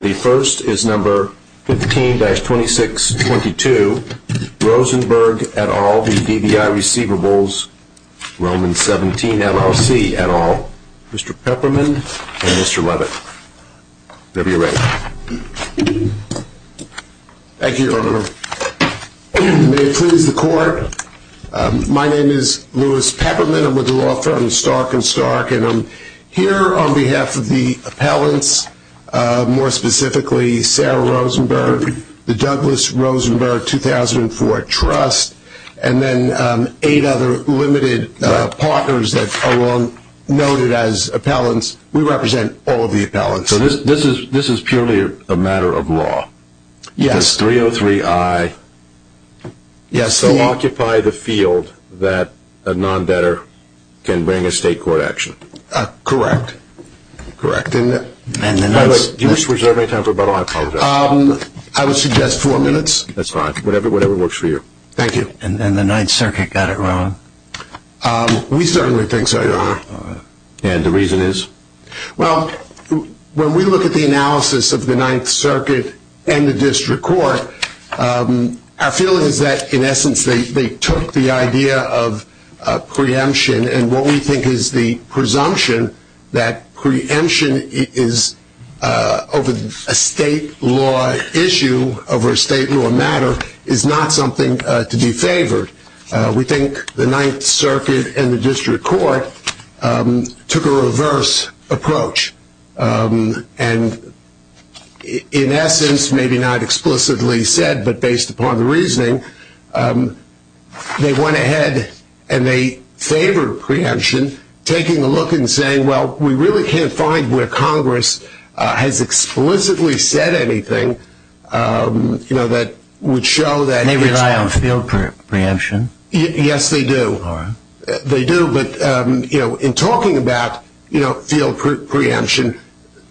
The first is number 15-2622 Rosenberg et al. v DVI Receivables XVIILLC et al. Mr. Pepperman and Mr. Levitt. Whenever you're ready. Thank you, Your Honor. May it please the Court. My name is Louis Pepperman. I'm with the law firm Stark & Stark. I'm here on behalf of the appellants, more specifically Sarah Rosenberg, the Douglas Rosenberg 2004 Trust, and then eight other limited partners that are noted as appellants. We represent all of the appellants. So this is purely a matter of law? Yes. 303I. So occupy the field that a non-debtor can bring a state court action? Correct. Correct. Do you wish to reserve any time for rebuttal? I apologize. I would suggest four minutes. That's fine. Whatever works for you. Thank you. And the Ninth Circuit got it wrong? We certainly think so, Your Honor. And the reason is? Well, when we look at the analysis of the Ninth Circuit and the district court, our feeling is that, in essence, they took the idea of preemption, and what we think is the presumption that preemption is, over a state law issue, over a state law matter, is not something to be favored. We think the Ninth Circuit and the district court took a reverse approach and, in essence, maybe not explicitly said, but based upon the reasoning, they went ahead and they favored preemption, taking a look and saying, well, we really can't find where Congress has explicitly said anything that would show that. And they rely on field preemption? Yes, they do. They do, but in talking about field preemption,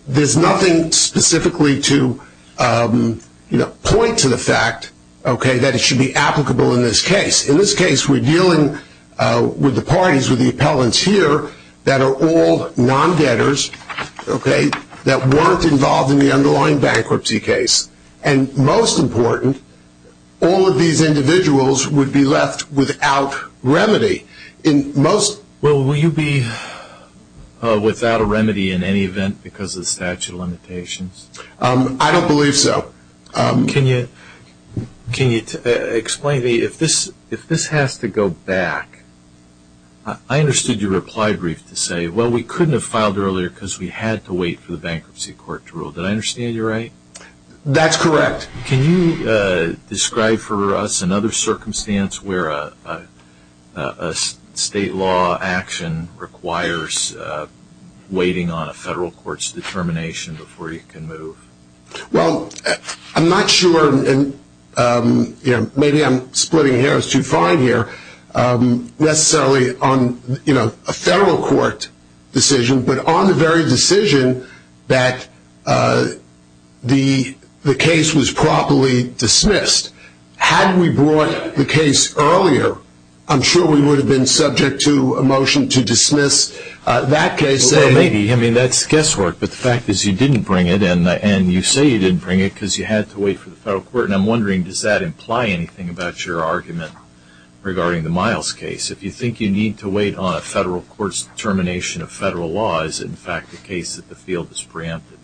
there's nothing specifically to point to the fact that it should be applicable in this case. In this case, we're dealing with the parties, with the appellants here, that are all non-debtors that weren't involved in the underlying bankruptcy case. And most important, all of these individuals would be left without remedy. Will you be without a remedy in any event because of the statute of limitations? I don't believe so. Can you explain to me, if this has to go back, I understood your reply brief to say, well, we couldn't have filed earlier because we had to wait for the bankruptcy court to rule. Did I understand you right? That's correct. Can you describe for us another circumstance where a state law action requires waiting on a federal court's determination before you can move? Well, I'm not sure, and maybe I'm splitting hairs too far in here, necessarily on a federal court decision, but on the very decision that the case was properly dismissed. Had we brought the case earlier, I'm sure we would have been subject to a motion to dismiss that case. Well, maybe. I mean, that's guesswork. But the fact is you didn't bring it, and you say you didn't bring it because you had to wait for the federal court. And I'm wondering, does that imply anything about your argument regarding the Miles case? If you think you need to wait on a federal court's determination of federal law, is it in fact the case that the field is preempted?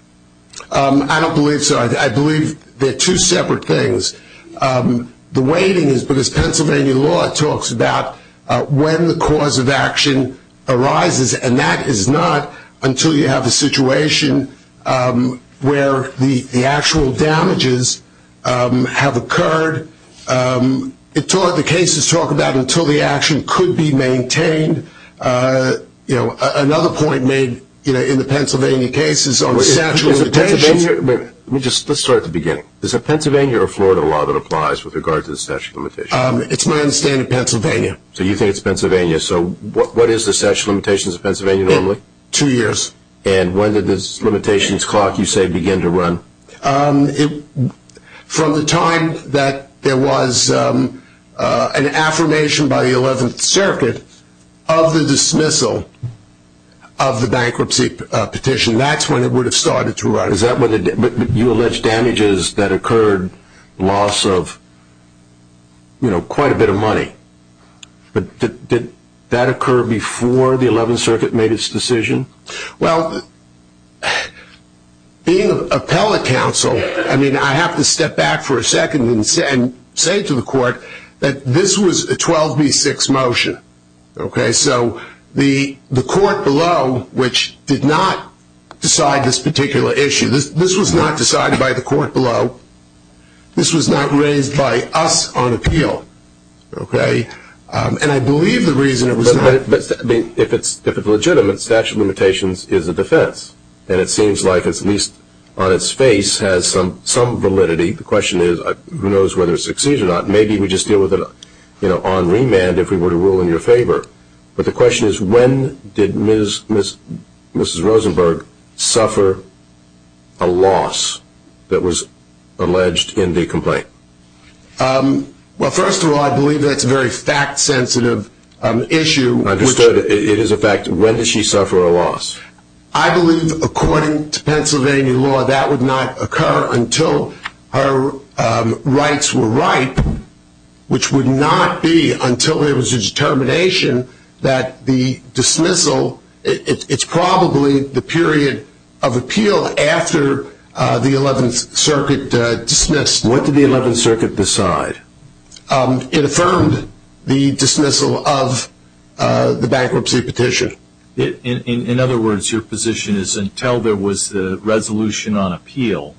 I don't believe so. I believe they're two separate things. The waiting is because Pennsylvania law talks about when the cause of action arises, and that is not until you have a situation where the actual damages have occurred. The cases talk about until the action could be maintained. Another point made in the Pennsylvania case is on statute of limitations. Let's start at the beginning. Is it Pennsylvania or Florida law that applies with regard to the statute of limitations? It's my understanding Pennsylvania. So you think it's Pennsylvania. So what is the statute of limitations of Pennsylvania normally? Two years. And when did this limitations clock, you say, begin to run? From the time that there was an affirmation by the 11th Circuit of the dismissal of the bankruptcy petition, that's when it would have started to run. But you allege damages that occurred, loss of, you know, quite a bit of money. But did that occur before the 11th Circuit made its decision? Well, being an appellate counsel, I mean, I have to step back for a second and say to the court that this was a 12B6 motion. Okay? So the court below, which did not decide this particular issue, this was not decided by the court below. This was not raised by us on appeal. Okay? And I believe the reason it was not. If it's legitimate, statute of limitations is a defense, and it seems like it's at least on its face has some validity. The question is who knows whether it succeeds or not. Maybe we just deal with it on remand if we were to rule in your favor. But the question is when did Mrs. Rosenberg suffer a loss that was alleged in the complaint? Well, first of all, I believe that's a very fact-sensitive issue. Understood. It is a fact. When did she suffer a loss? I believe, according to Pennsylvania law, that would not occur until her rights were ripe, which would not be until there was a determination that the dismissal, it's probably the period of appeal after the 11th Circuit dismissed. What did the 11th Circuit decide? It affirmed the dismissal of the bankruptcy petition. In other words, your position is until there was the resolution on appeal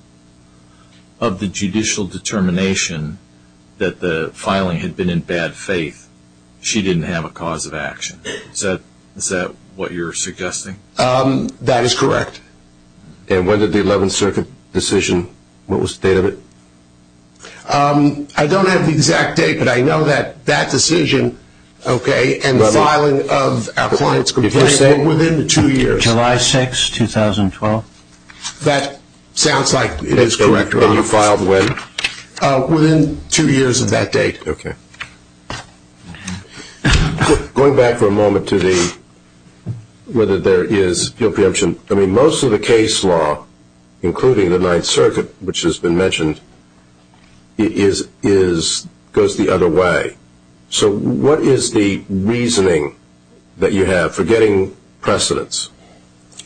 of the judicial determination that the filing had been in bad faith, she didn't have a cause of action. Is that what you're suggesting? That is correct. And when did the 11th Circuit decision, what was the date of it? I don't have the exact date, but I know that that decision, okay, and the filing of our client's complaint were within two years. July 6, 2012. That sounds like it is correct. And you filed when? Within two years of that date. Okay. Going back for a moment to the whether there is appeal preemption, I mean, most of the case law, including the Ninth Circuit, which has been mentioned, goes the other way. So what is the reasoning that you have for getting precedents?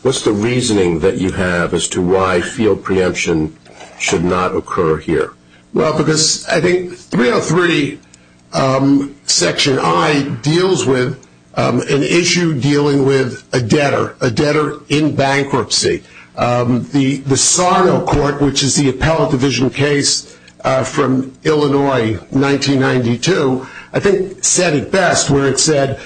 What's the reasoning that you have as to why field preemption should not occur here? Well, because I think 303 Section I deals with an issue dealing with a debtor, a debtor in bankruptcy. The Sarno Court, which is the appellate division case from Illinois, 1992, I think said it best where it said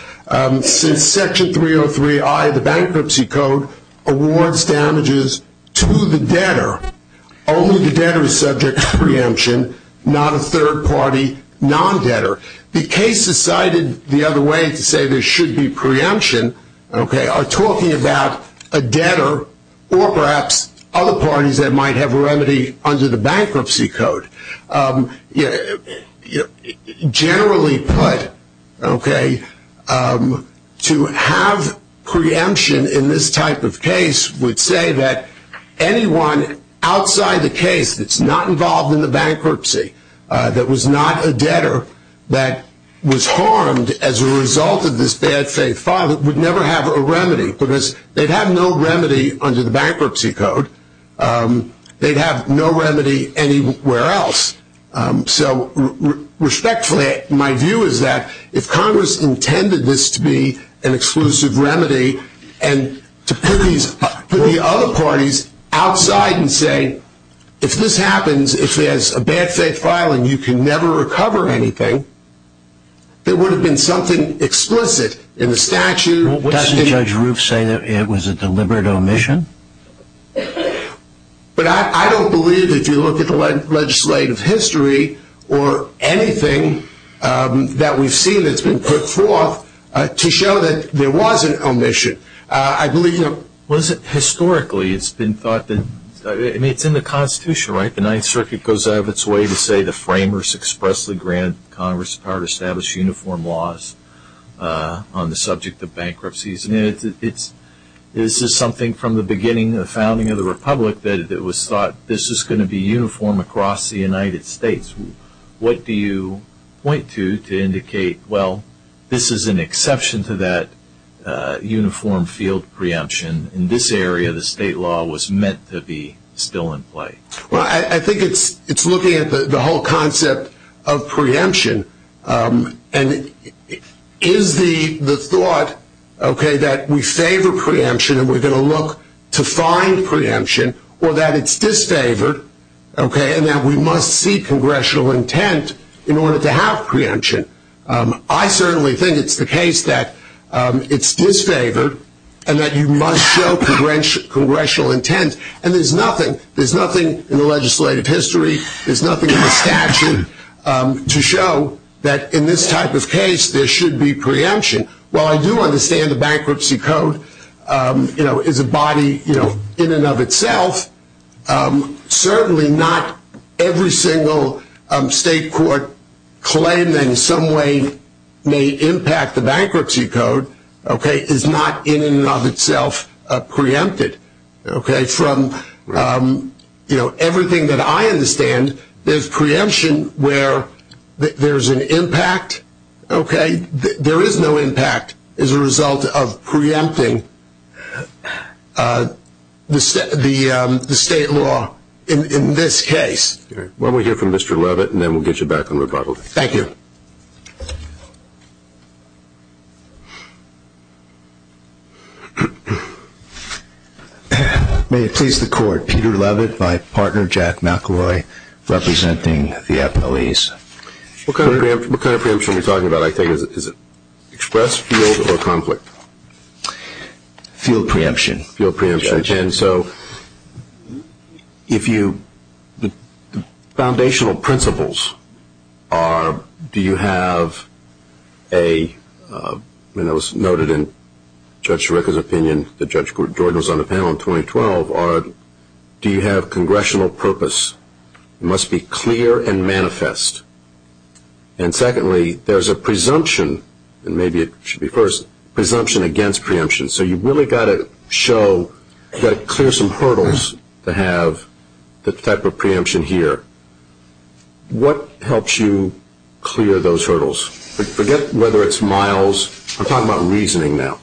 since Section 303I of the Bankruptcy Code awards damages to the debtor, only the debtor is subject to preemption, not a third-party non-debtor. The cases cited the other way to say there should be preemption, okay, are talking about a debtor or perhaps other parties that might have a remedy under the Bankruptcy Code. Generally put, okay, to have preemption in this type of case would say that anyone outside the case that's not involved in the bankruptcy, that was not a debtor, that was harmed as a result of this bad faith filing would never have a remedy because they'd have no remedy under the Bankruptcy Code. They'd have no remedy anywhere else. So respectfully, my view is that if Congress intended this to be an exclusive remedy and to put the other parties outside and say if this happens, if there's a bad faith filing, you can never recover anything, there would have been something explicit in the statute. Well, doesn't Judge Roof say that it was a deliberate omission? But I don't believe if you look at the legislative history or anything that we've seen that's been put forth to show that there was an omission. Well, historically it's been thought that, I mean, it's in the Constitution, right? The Ninth Circuit goes out of its way to say the framers expressly grant Congress the power to establish uniform laws on the subject of bankruptcies. This is something from the beginning, the founding of the Republic, that it was thought this was going to be uniform across the United States. What do you point to to indicate, well, this is an exception to that uniform field preemption? In this area, the state law was meant to be still in play. Well, I think it's looking at the whole concept of preemption and is the thought that we favor preemption and we're going to look to find preemption or that it's disfavored and that we must seek congressional intent in order to have preemption. I certainly think it's the case that it's disfavored and that you must show congressional intent and there's nothing, there's nothing in the legislative history, there's nothing in the statute to show that in this type of case there should be preemption. While I do understand the Bankruptcy Code is a body in and of itself, certainly not every single state court claim that in some way may impact the Bankruptcy Code is not in and of itself preempted. From everything that I understand, there's preemption where there's an impact. There is no impact as a result of preempting the state law in this case. Well, we'll hear from Mr. Levitt and then we'll get you back on rebuttal. Thank you. May it please the court, Peter Levitt, my partner Jack McElroy, representing the appellees. What kind of preemption are we talking about? I think is it express, field, or conflict? Field preemption. Field preemption. And so if you, the foundational principles are do you have a, and that was noted in Judge Schroeder's opinion that Judge Jordan was on the panel in 2012, are do you have congressional purpose? It must be clear and manifest. And secondly, there's a presumption, and maybe it should be first, presumption against preemption. So you've really got to show, you've got to clear some hurdles to have the type of preemption here. What helps you clear those hurdles? Forget whether it's miles. I'm talking about reasoning now.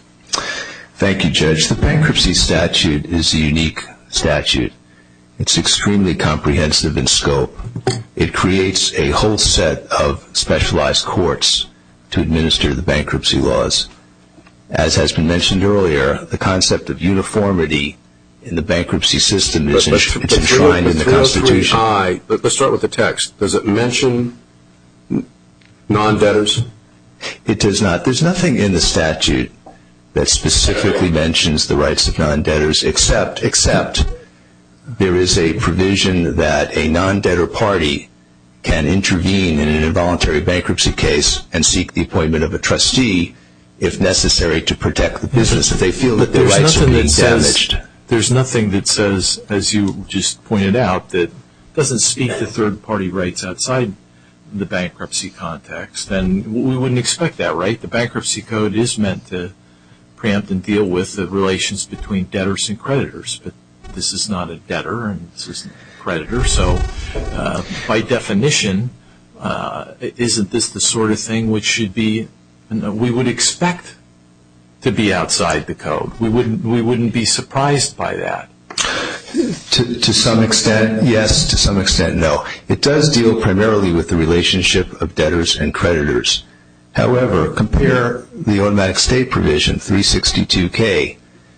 Thank you, Judge. The bankruptcy statute is a unique statute. It's extremely comprehensive in scope. It creates a whole set of specialized courts to administer the bankruptcy laws. As has been mentioned earlier, the concept of uniformity in the bankruptcy system is enshrined in the Constitution. Let's start with the text. Does it mention non-debtors? It does not. There's nothing in the statute that specifically mentions the rights of non-debtors, except there is a provision that a non-debtor party can intervene in an involuntary bankruptcy case and seek the appointment of a trustee if necessary to protect the business. But there's nothing that says, as you just pointed out, that doesn't speak to third-party rights outside the bankruptcy context. And we wouldn't expect that, right? The bankruptcy code is meant to preempt and deal with the relations between debtors and creditors, but this is not a debtor and this isn't a creditor. So by definition, isn't this the sort of thing which we would expect to be outside the code? We wouldn't be surprised by that. To some extent, yes. To some extent, no. It does deal primarily with the relationship of debtors and creditors. However, compare the automatic stay provision, 362K.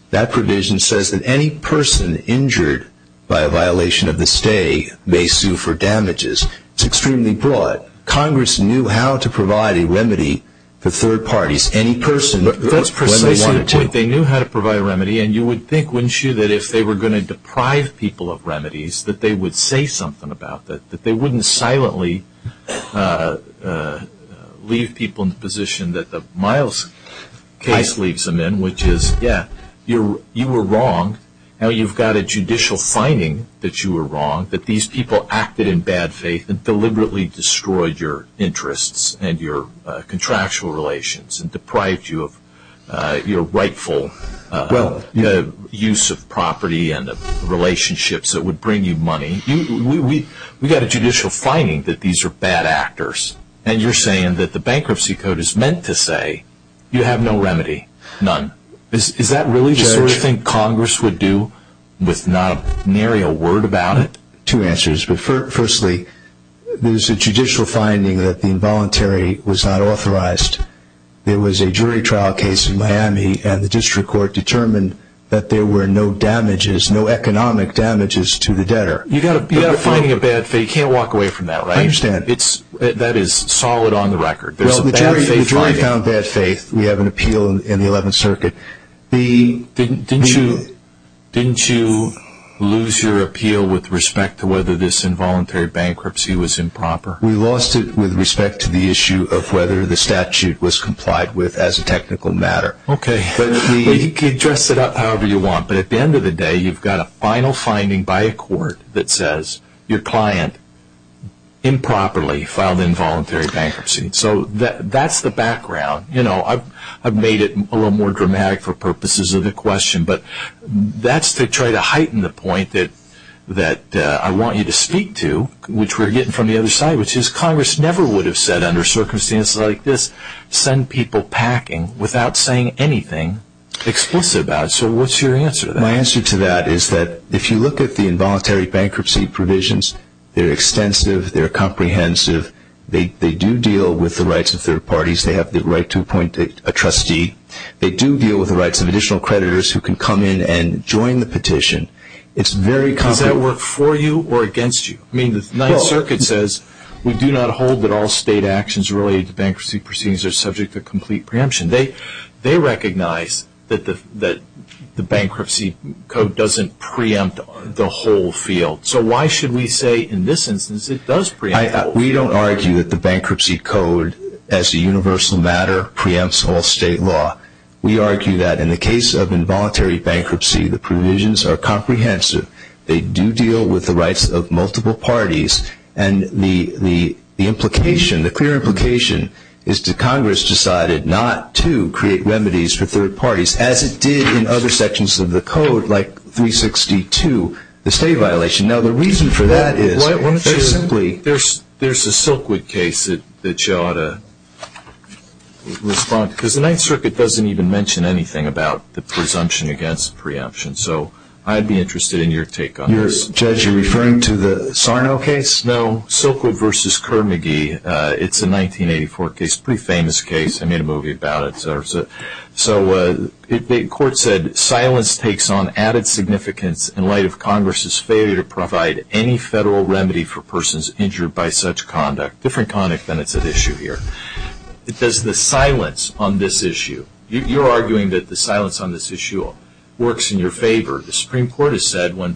That provision says that any person injured by a violation of the stay may sue for damages. It's extremely broad. Congress knew how to provide a remedy to third parties. Any person when they wanted to. That's precisely the point. They knew how to provide a remedy, and you would think, wouldn't you, that if they were going to deprive people of remedies that they would say something about that, that they wouldn't silently leave people in the position that the Miles case leaves them in, which is, yeah, you were wrong. Now you've got a judicial finding that you were wrong, that these people acted in bad faith and deliberately destroyed your interests and your contractual relations and deprived you of your rightful use of property and relationships that would bring you money. We've got a judicial finding that these are bad actors, and you're saying that the bankruptcy code is meant to say you have no remedy. None. Is that really the sort of thing Congress would do with not nary a word about it? Two answers. Firstly, there's a judicial finding that the involuntary was not authorized. There was a jury trial case in Miami, and the district court determined that there were no economic damages to the debtor. You've got a finding of bad faith. You can't walk away from that, right? I understand. That is solid on the record. There's a bad faith finding. The jury found bad faith. We have an appeal in the 11th Circuit. Didn't you lose your appeal with respect to whether this involuntary bankruptcy was improper? We lost it with respect to the issue of whether the statute was complied with as a technical matter. Okay. You can dress it up however you want, but at the end of the day you've got a final finding by a court that says your client improperly filed involuntary bankruptcy. So that's the background. I've made it a little more dramatic for purposes of the question, but that's to try to heighten the point that I want you to speak to, which we're getting from the other side, which is Congress never would have said under circumstances like this, send people packing without saying anything explicit about it. So what's your answer to that? My answer to that is that if you look at the involuntary bankruptcy provisions, they're extensive. They're comprehensive. They do deal with the rights of third parties. They have the right to appoint a trustee. They do deal with the rights of additional creditors who can come in and join the petition. It's very comprehensive. Does that work for you or against you? I mean the 9th Circuit says we do not hold that all state actions related to bankruptcy proceedings are subject to complete preemption. They recognize that the bankruptcy code doesn't preempt the whole field. So why should we say in this instance it does preempt the whole field? We don't argue that the bankruptcy code as a universal matter preempts all state law. We argue that in the case of involuntary bankruptcy, the provisions are comprehensive. They do deal with the rights of multiple parties, and the clear implication is that Congress decided not to create remedies for third parties, as it did in other sections of the code, like 362, the state violation. Now the reason for that is there's a Silkwood case that you ought to respond to, because the 9th Circuit doesn't even mention anything about the presumption against preemption. So I'd be interested in your take on this. Judge, you're referring to the Sarno case? No, Silkwood v. Kerr-McGee. It's a 1984 case, a pretty famous case. I made a movie about it. So the court said silence takes on added significance in light of Congress's failure to provide any federal remedy for persons injured by such conduct. Different conduct than it's at issue here. Does the silence on this issue, you're arguing that the silence on this issue works in your favor. The Supreme Court has said when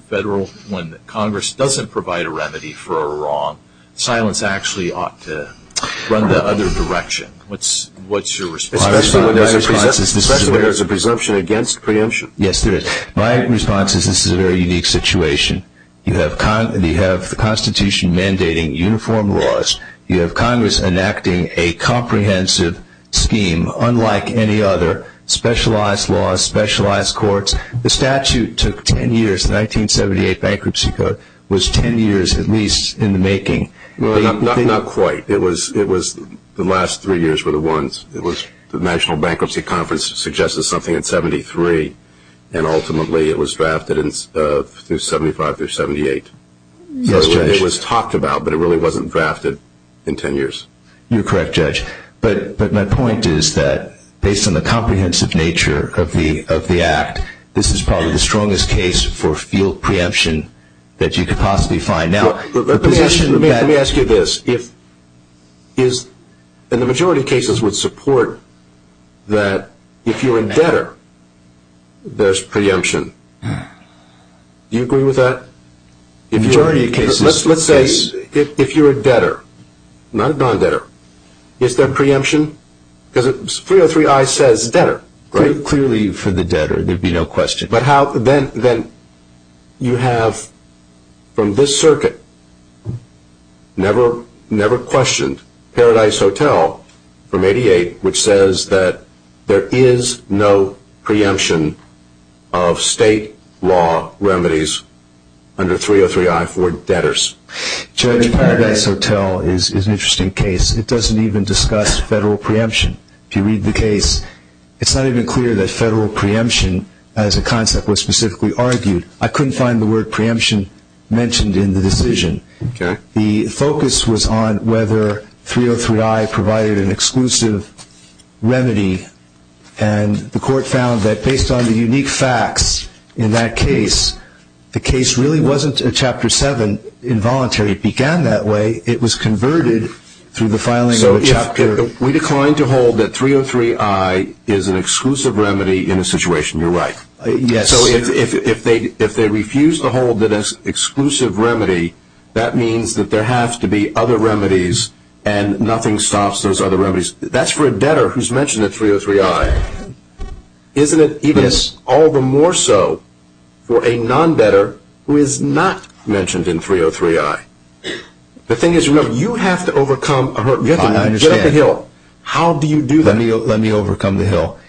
Congress doesn't provide a remedy for a wrong, silence actually ought to run the other direction. What's your response? Especially when there's a presumption against preemption. Yes, there is. My response is this is a very unique situation. You have the Constitution mandating uniform laws. You have Congress enacting a comprehensive scheme unlike any other, specialized laws, specialized courts. The statute took ten years, the 1978 Bankruptcy Code, was ten years at least in the making. Not quite. The last three years were the ones. The National Bankruptcy Conference suggested something in 1973, and ultimately it was drafted through 1975 through 1978. Yes, Judge. It was talked about, but it really wasn't drafted in ten years. You're correct, Judge. But my point is that based on the comprehensive nature of the Act, this is probably the strongest case for field preemption that you could possibly find. Let me ask you this. The majority of cases would support that if you're a debtor, there's preemption. Do you agree with that? Majority of cases. Let's say if you're a debtor, not a non-debtor, is there preemption? Because 303I says debtor. Clearly for the debtor, there'd be no question. Then you have, from this circuit, never questioned Paradise Hotel from 88, which says that there is no preemption of state law remedies under 303I for debtors. Judge, Paradise Hotel is an interesting case. It doesn't even discuss federal preemption. If you read the case, it's not even clear that federal preemption as a concept was specifically argued. I couldn't find the word preemption mentioned in the decision. The focus was on whether 303I provided an exclusive remedy, and the Court found that based on the unique facts in that case, the case really wasn't a Chapter 7 involuntary. It began that way. It was converted through the filing of a Chapter. We declined to hold that 303I is an exclusive remedy in a situation. You're right. So if they refuse to hold that as exclusive remedy, that means that there have to be other remedies and nothing stops those other remedies. That's for a debtor who's mentioned in 303I. Isn't it even all the more so for a non-debtor who is not mentioned in 303I? The thing is, you have to overcome a hurdle. You have to get up the hill. How do you do that? Let me overcome the hill.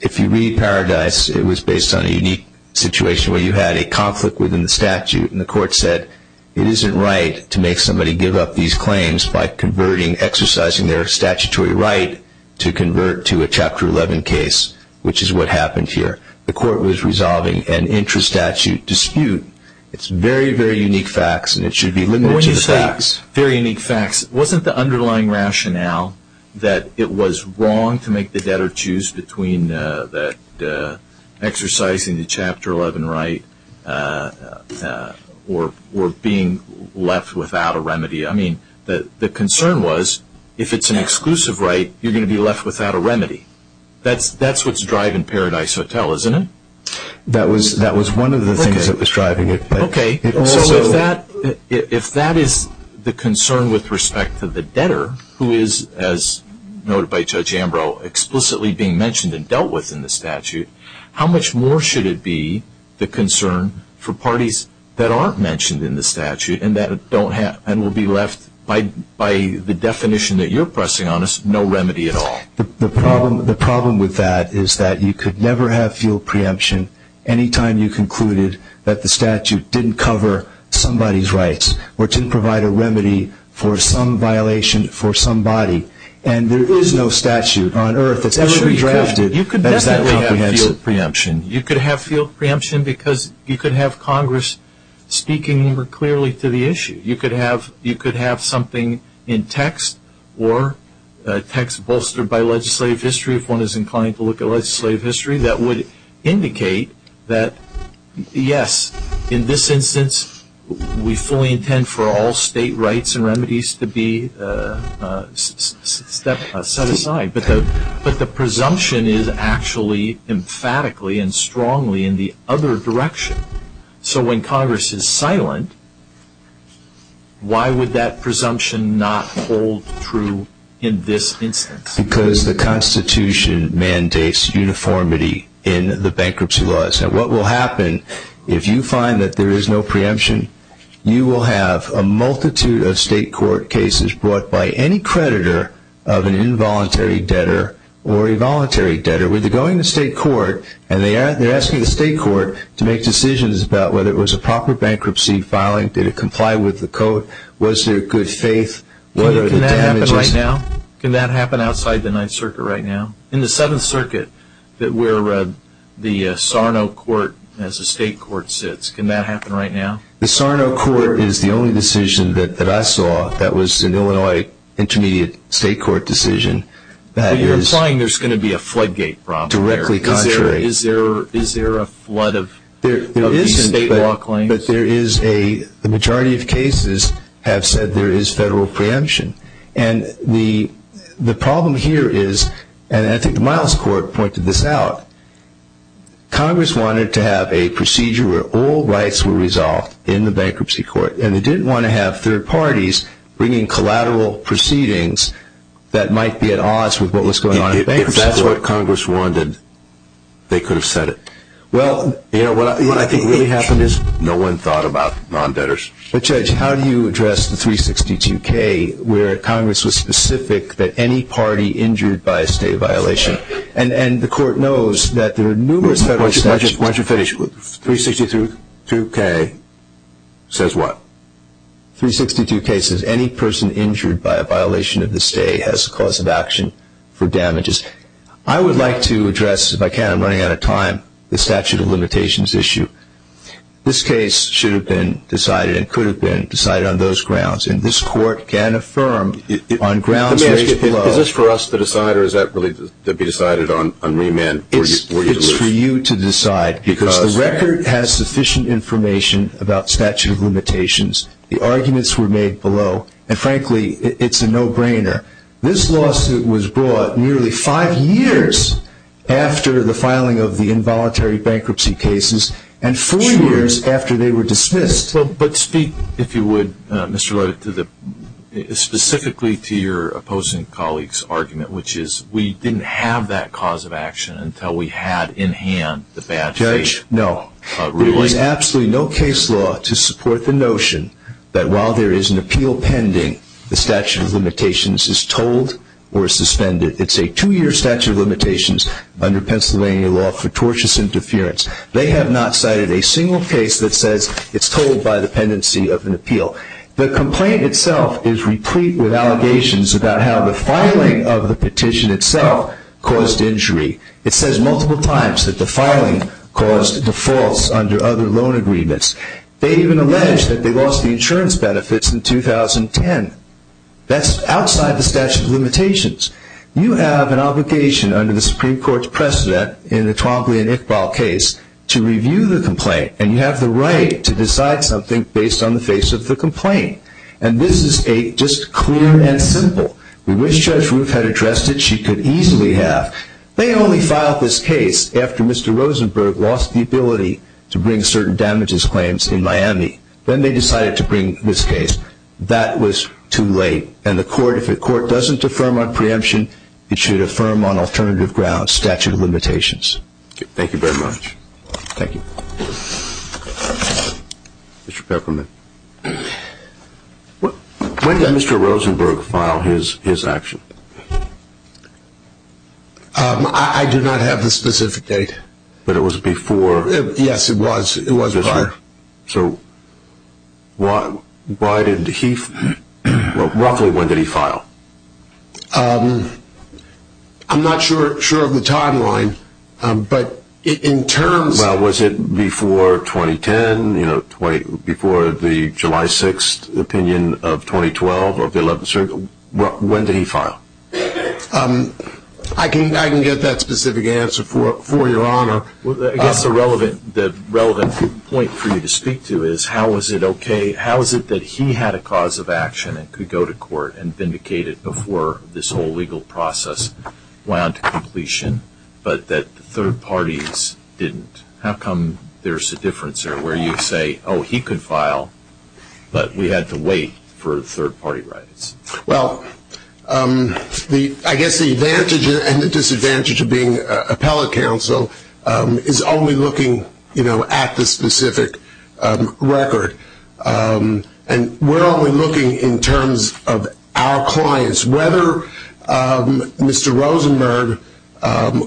If you read Paradise, it was based on a unique situation where you had a conflict within the statute, and the Court said it isn't right to make somebody give up these claims by converting, exercising their statutory right to convert to a Chapter 11 case, which is what happened here. The Court was resolving an intra-statute dispute. It's very, very unique facts, and it should be limited to the facts. When you say very unique facts, wasn't the underlying rationale that it was wrong to make the debtor choose between exercising the Chapter 11 right or being left without a remedy? I mean, the concern was if it's an exclusive right, you're going to be left without a remedy. That's what's driving Paradise Hotel, isn't it? That was one of the things that was driving it. Okay, so if that is the concern with respect to the debtor, who is, as noted by Judge Ambrose, explicitly being mentioned and dealt with in the statute, how much more should it be the concern for parties that aren't mentioned in the statute and will be left by the definition that you're pressing on us, no remedy at all? The problem with that is that you could never have field preemption any time you concluded that the statute didn't cover somebody's rights or didn't provide a remedy for some violation for somebody. And there is no statute on Earth that's ever been drafted that is that comprehensive. You could definitely have field preemption. You could have field preemption because you could have Congress speaking more clearly to the issue. You could have something in text or text bolstered by legislative history, if one is inclined to look at legislative history, that would indicate that, yes, in this instance we fully intend for all state rights and remedies to be set aside, but the presumption is actually emphatically and strongly in the other direction. So when Congress is silent, why would that presumption not hold true in this instance? Because the Constitution mandates uniformity in the bankruptcy laws. And what will happen if you find that there is no preemption, you will have a multitude of state court cases brought by any creditor of an involuntary debtor or a voluntary debtor where they're going to state court and they're asking the state court to make decisions about whether it was a proper bankruptcy filing, did it comply with the code, was there good faith, what are the damages. Can that happen right now? Can that happen outside the Ninth Circuit right now? In the Seventh Circuit where the Sarno Court as a state court sits, can that happen right now? The Sarno Court is the only decision that I saw that was an Illinois intermediate state court decision. Are you implying there's going to be a floodgate problem there? Is there a flood of state law claims? There isn't, but the majority of cases have said there is federal preemption. And the problem here is, and I think the Miles Court pointed this out, Congress wanted to have a procedure where all rights were resolved in the bankruptcy court and they didn't want to have third parties bringing collateral proceedings that might be at odds with what was going on in the bankruptcy court. If that's what Congress wanted, they could have said it. What I think really happened is no one thought about non-debtors. But Judge, how do you address the 362K where Congress was specific that any party injured by a state violation, and the court knows that there are numerous federal statutes... Why don't you finish? 362K says what? I would like to address, if I can, I'm running out of time, the statute of limitations issue. This case should have been decided and could have been decided on those grounds, and this court can affirm on grounds raised below... Is this for us to decide or is that really to be decided on remand? It's for you to decide because the record has sufficient information about statute of limitations. The arguments were made below, and frankly, it's a no-brainer. This lawsuit was brought nearly five years after the filing of the involuntary bankruptcy cases and four years after they were dismissed. But speak, if you would, Mr. Lloyd, specifically to your opposing colleague's argument, which is we didn't have that cause of action until we had in hand the bad faith. Judge? No. There was absolutely no case law to support the notion that while there is an appeal pending, the statute of limitations is told or suspended. It's a two-year statute of limitations under Pennsylvania law for tortious interference. They have not cited a single case that says it's told by the pendency of an appeal. The complaint itself is replete with allegations about how the filing of the petition itself caused injury. It says multiple times that the filing caused defaults under other loan agreements. They even allege that they lost the insurance benefits in 2010. That's outside the statute of limitations. You have an obligation under the Supreme Court's precedent in the Twombly and Iqbal case to review the complaint, and you have the right to decide something based on the face of the complaint. And this is just clear and simple. We wish Judge Roof had addressed it. She could easily have. They only filed this case after Mr. Rosenberg lost the ability to bring certain damages claims in Miami. Then they decided to bring this case. That was too late, and the court, if the court doesn't affirm our preemption, it should affirm on alternative grounds statute of limitations. Thank you very much. Thank you. Mr. Peppermint. When did Mr. Rosenberg file his action? I do not have the specific date. But it was before? Yes, it was. It was prior. So why did he, roughly when did he file? I'm not sure of the timeline, but in terms of Why was it before 2010, before the July 6th opinion of 2012 of the 11th Circuit? When did he file? I can get that specific answer for you, Your Honor. I guess the relevant point for you to speak to is how is it okay, how is it that he had a cause of action and could go to court and vindicate it before this whole legal process wound to completion, but that third parties didn't? How come there's a difference there where you say, oh, he could file, but we had to wait for third-party rights? Well, I guess the advantage and the disadvantage of being appellate counsel is only looking at the specific record. And we're only looking in terms of our clients. Whether Mr. Rosenberg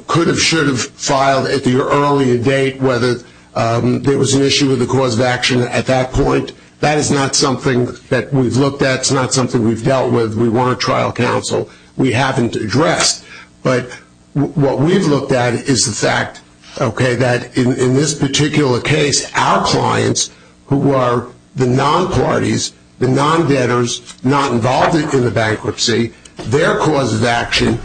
could have, should have filed at the earlier date, whether there was an issue with the cause of action at that point, that is not something that we've looked at. It's not something we've dealt with. We weren't trial counsel. We haven't addressed. But what we've looked at is the fact, okay, that in this particular case, our clients who are the non-parties, the non-debtors, not involved in the bankruptcy, their cause of action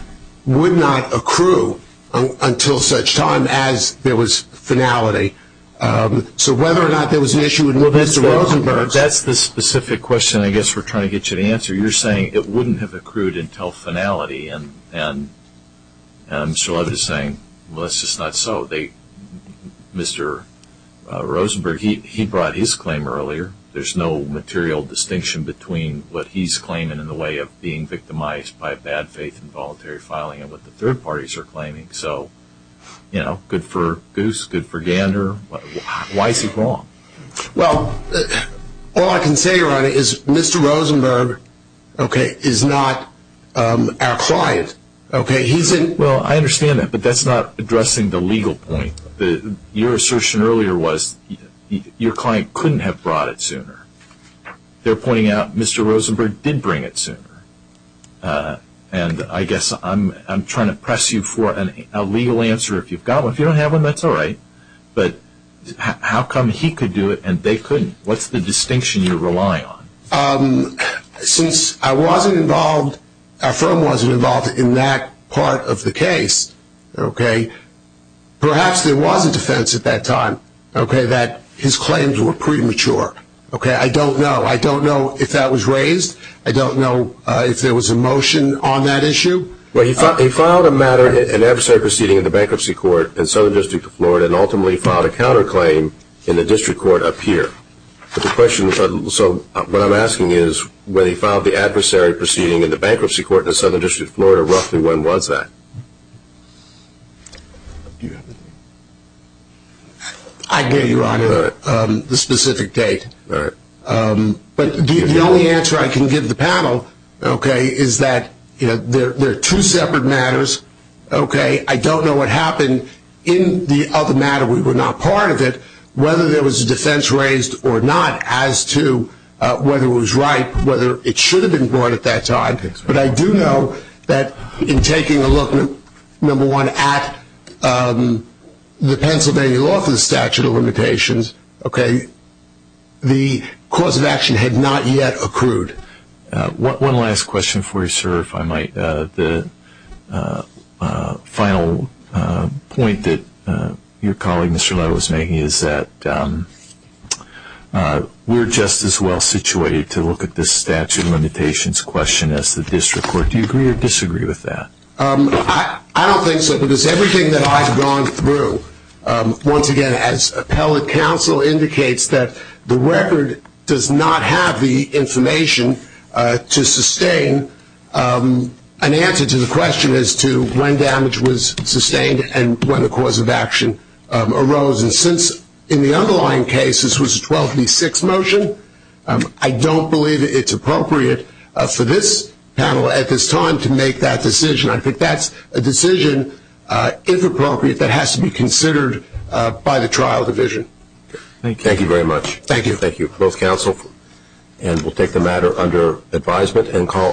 would not accrue until such time as there was finality. So whether or not there was an issue with Mr. Rosenberg. Well, that's the specific question I guess we're trying to get you to answer. You're saying it wouldn't have accrued until finality. And Mr. Levitt is saying, well, that's just not so. Mr. Rosenberg, he brought his claim earlier. There's no material distinction between what he's claiming in the way of being victimized by bad faith and voluntary filing and what the third parties are claiming. So, you know, good for goose, good for gander. Why is he wrong? Well, all I can say, Ronnie, is Mr. Rosenberg, okay, is not our client. Okay, he's in. Well, I understand that, but that's not addressing the legal point. Your assertion earlier was your client couldn't have brought it sooner. They're pointing out Mr. Rosenberg did bring it sooner. And I guess I'm trying to press you for a legal answer. If you don't have one, that's all right. But how come he could do it and they couldn't? What's the distinction you rely on? Since I wasn't involved, our firm wasn't involved in that part of the case, okay, perhaps there was a defense at that time, okay, that his claims were premature. Okay, I don't know. I don't know if that was raised. I don't know if there was a motion on that issue. Well, he filed a matter, an adversary proceeding in the bankruptcy court in the Southern District of Florida and ultimately filed a counterclaim in the district court up here. So what I'm asking is when he filed the adversary proceeding in the bankruptcy court in the Southern District of Florida, roughly when was that? I can give you the specific date. But the only answer I can give the panel, okay, is that they're two separate matters, okay. I don't know what happened in the other matter. We were not part of it, whether there was a defense raised or not as to whether it was right, whether it should have been brought at that time. But I do know that in taking a look, number one, at the Pennsylvania law for the statute of limitations, okay, the cause of action had not yet accrued. One last question for you, sir, if I might. The final point that your colleague, Mr. Lowe, was making is that we're just as well situated to look at this statute of limitations question as the district court. Do you agree or disagree with that? I don't think so because everything that I've gone through, once again, as appellate counsel indicates that the record does not have the information to sustain an answer to the question as to when damage was sustained and when the cause of action arose. And since in the underlying case this was a 12 v. 6 motion, I don't believe it's appropriate for this panel at this time to make that decision. I think that's a decision, if appropriate, that has to be considered by the trial division. Thank you. Thank you very much. Thank you. Thank you, both counsel. And we'll take the matter under advisement.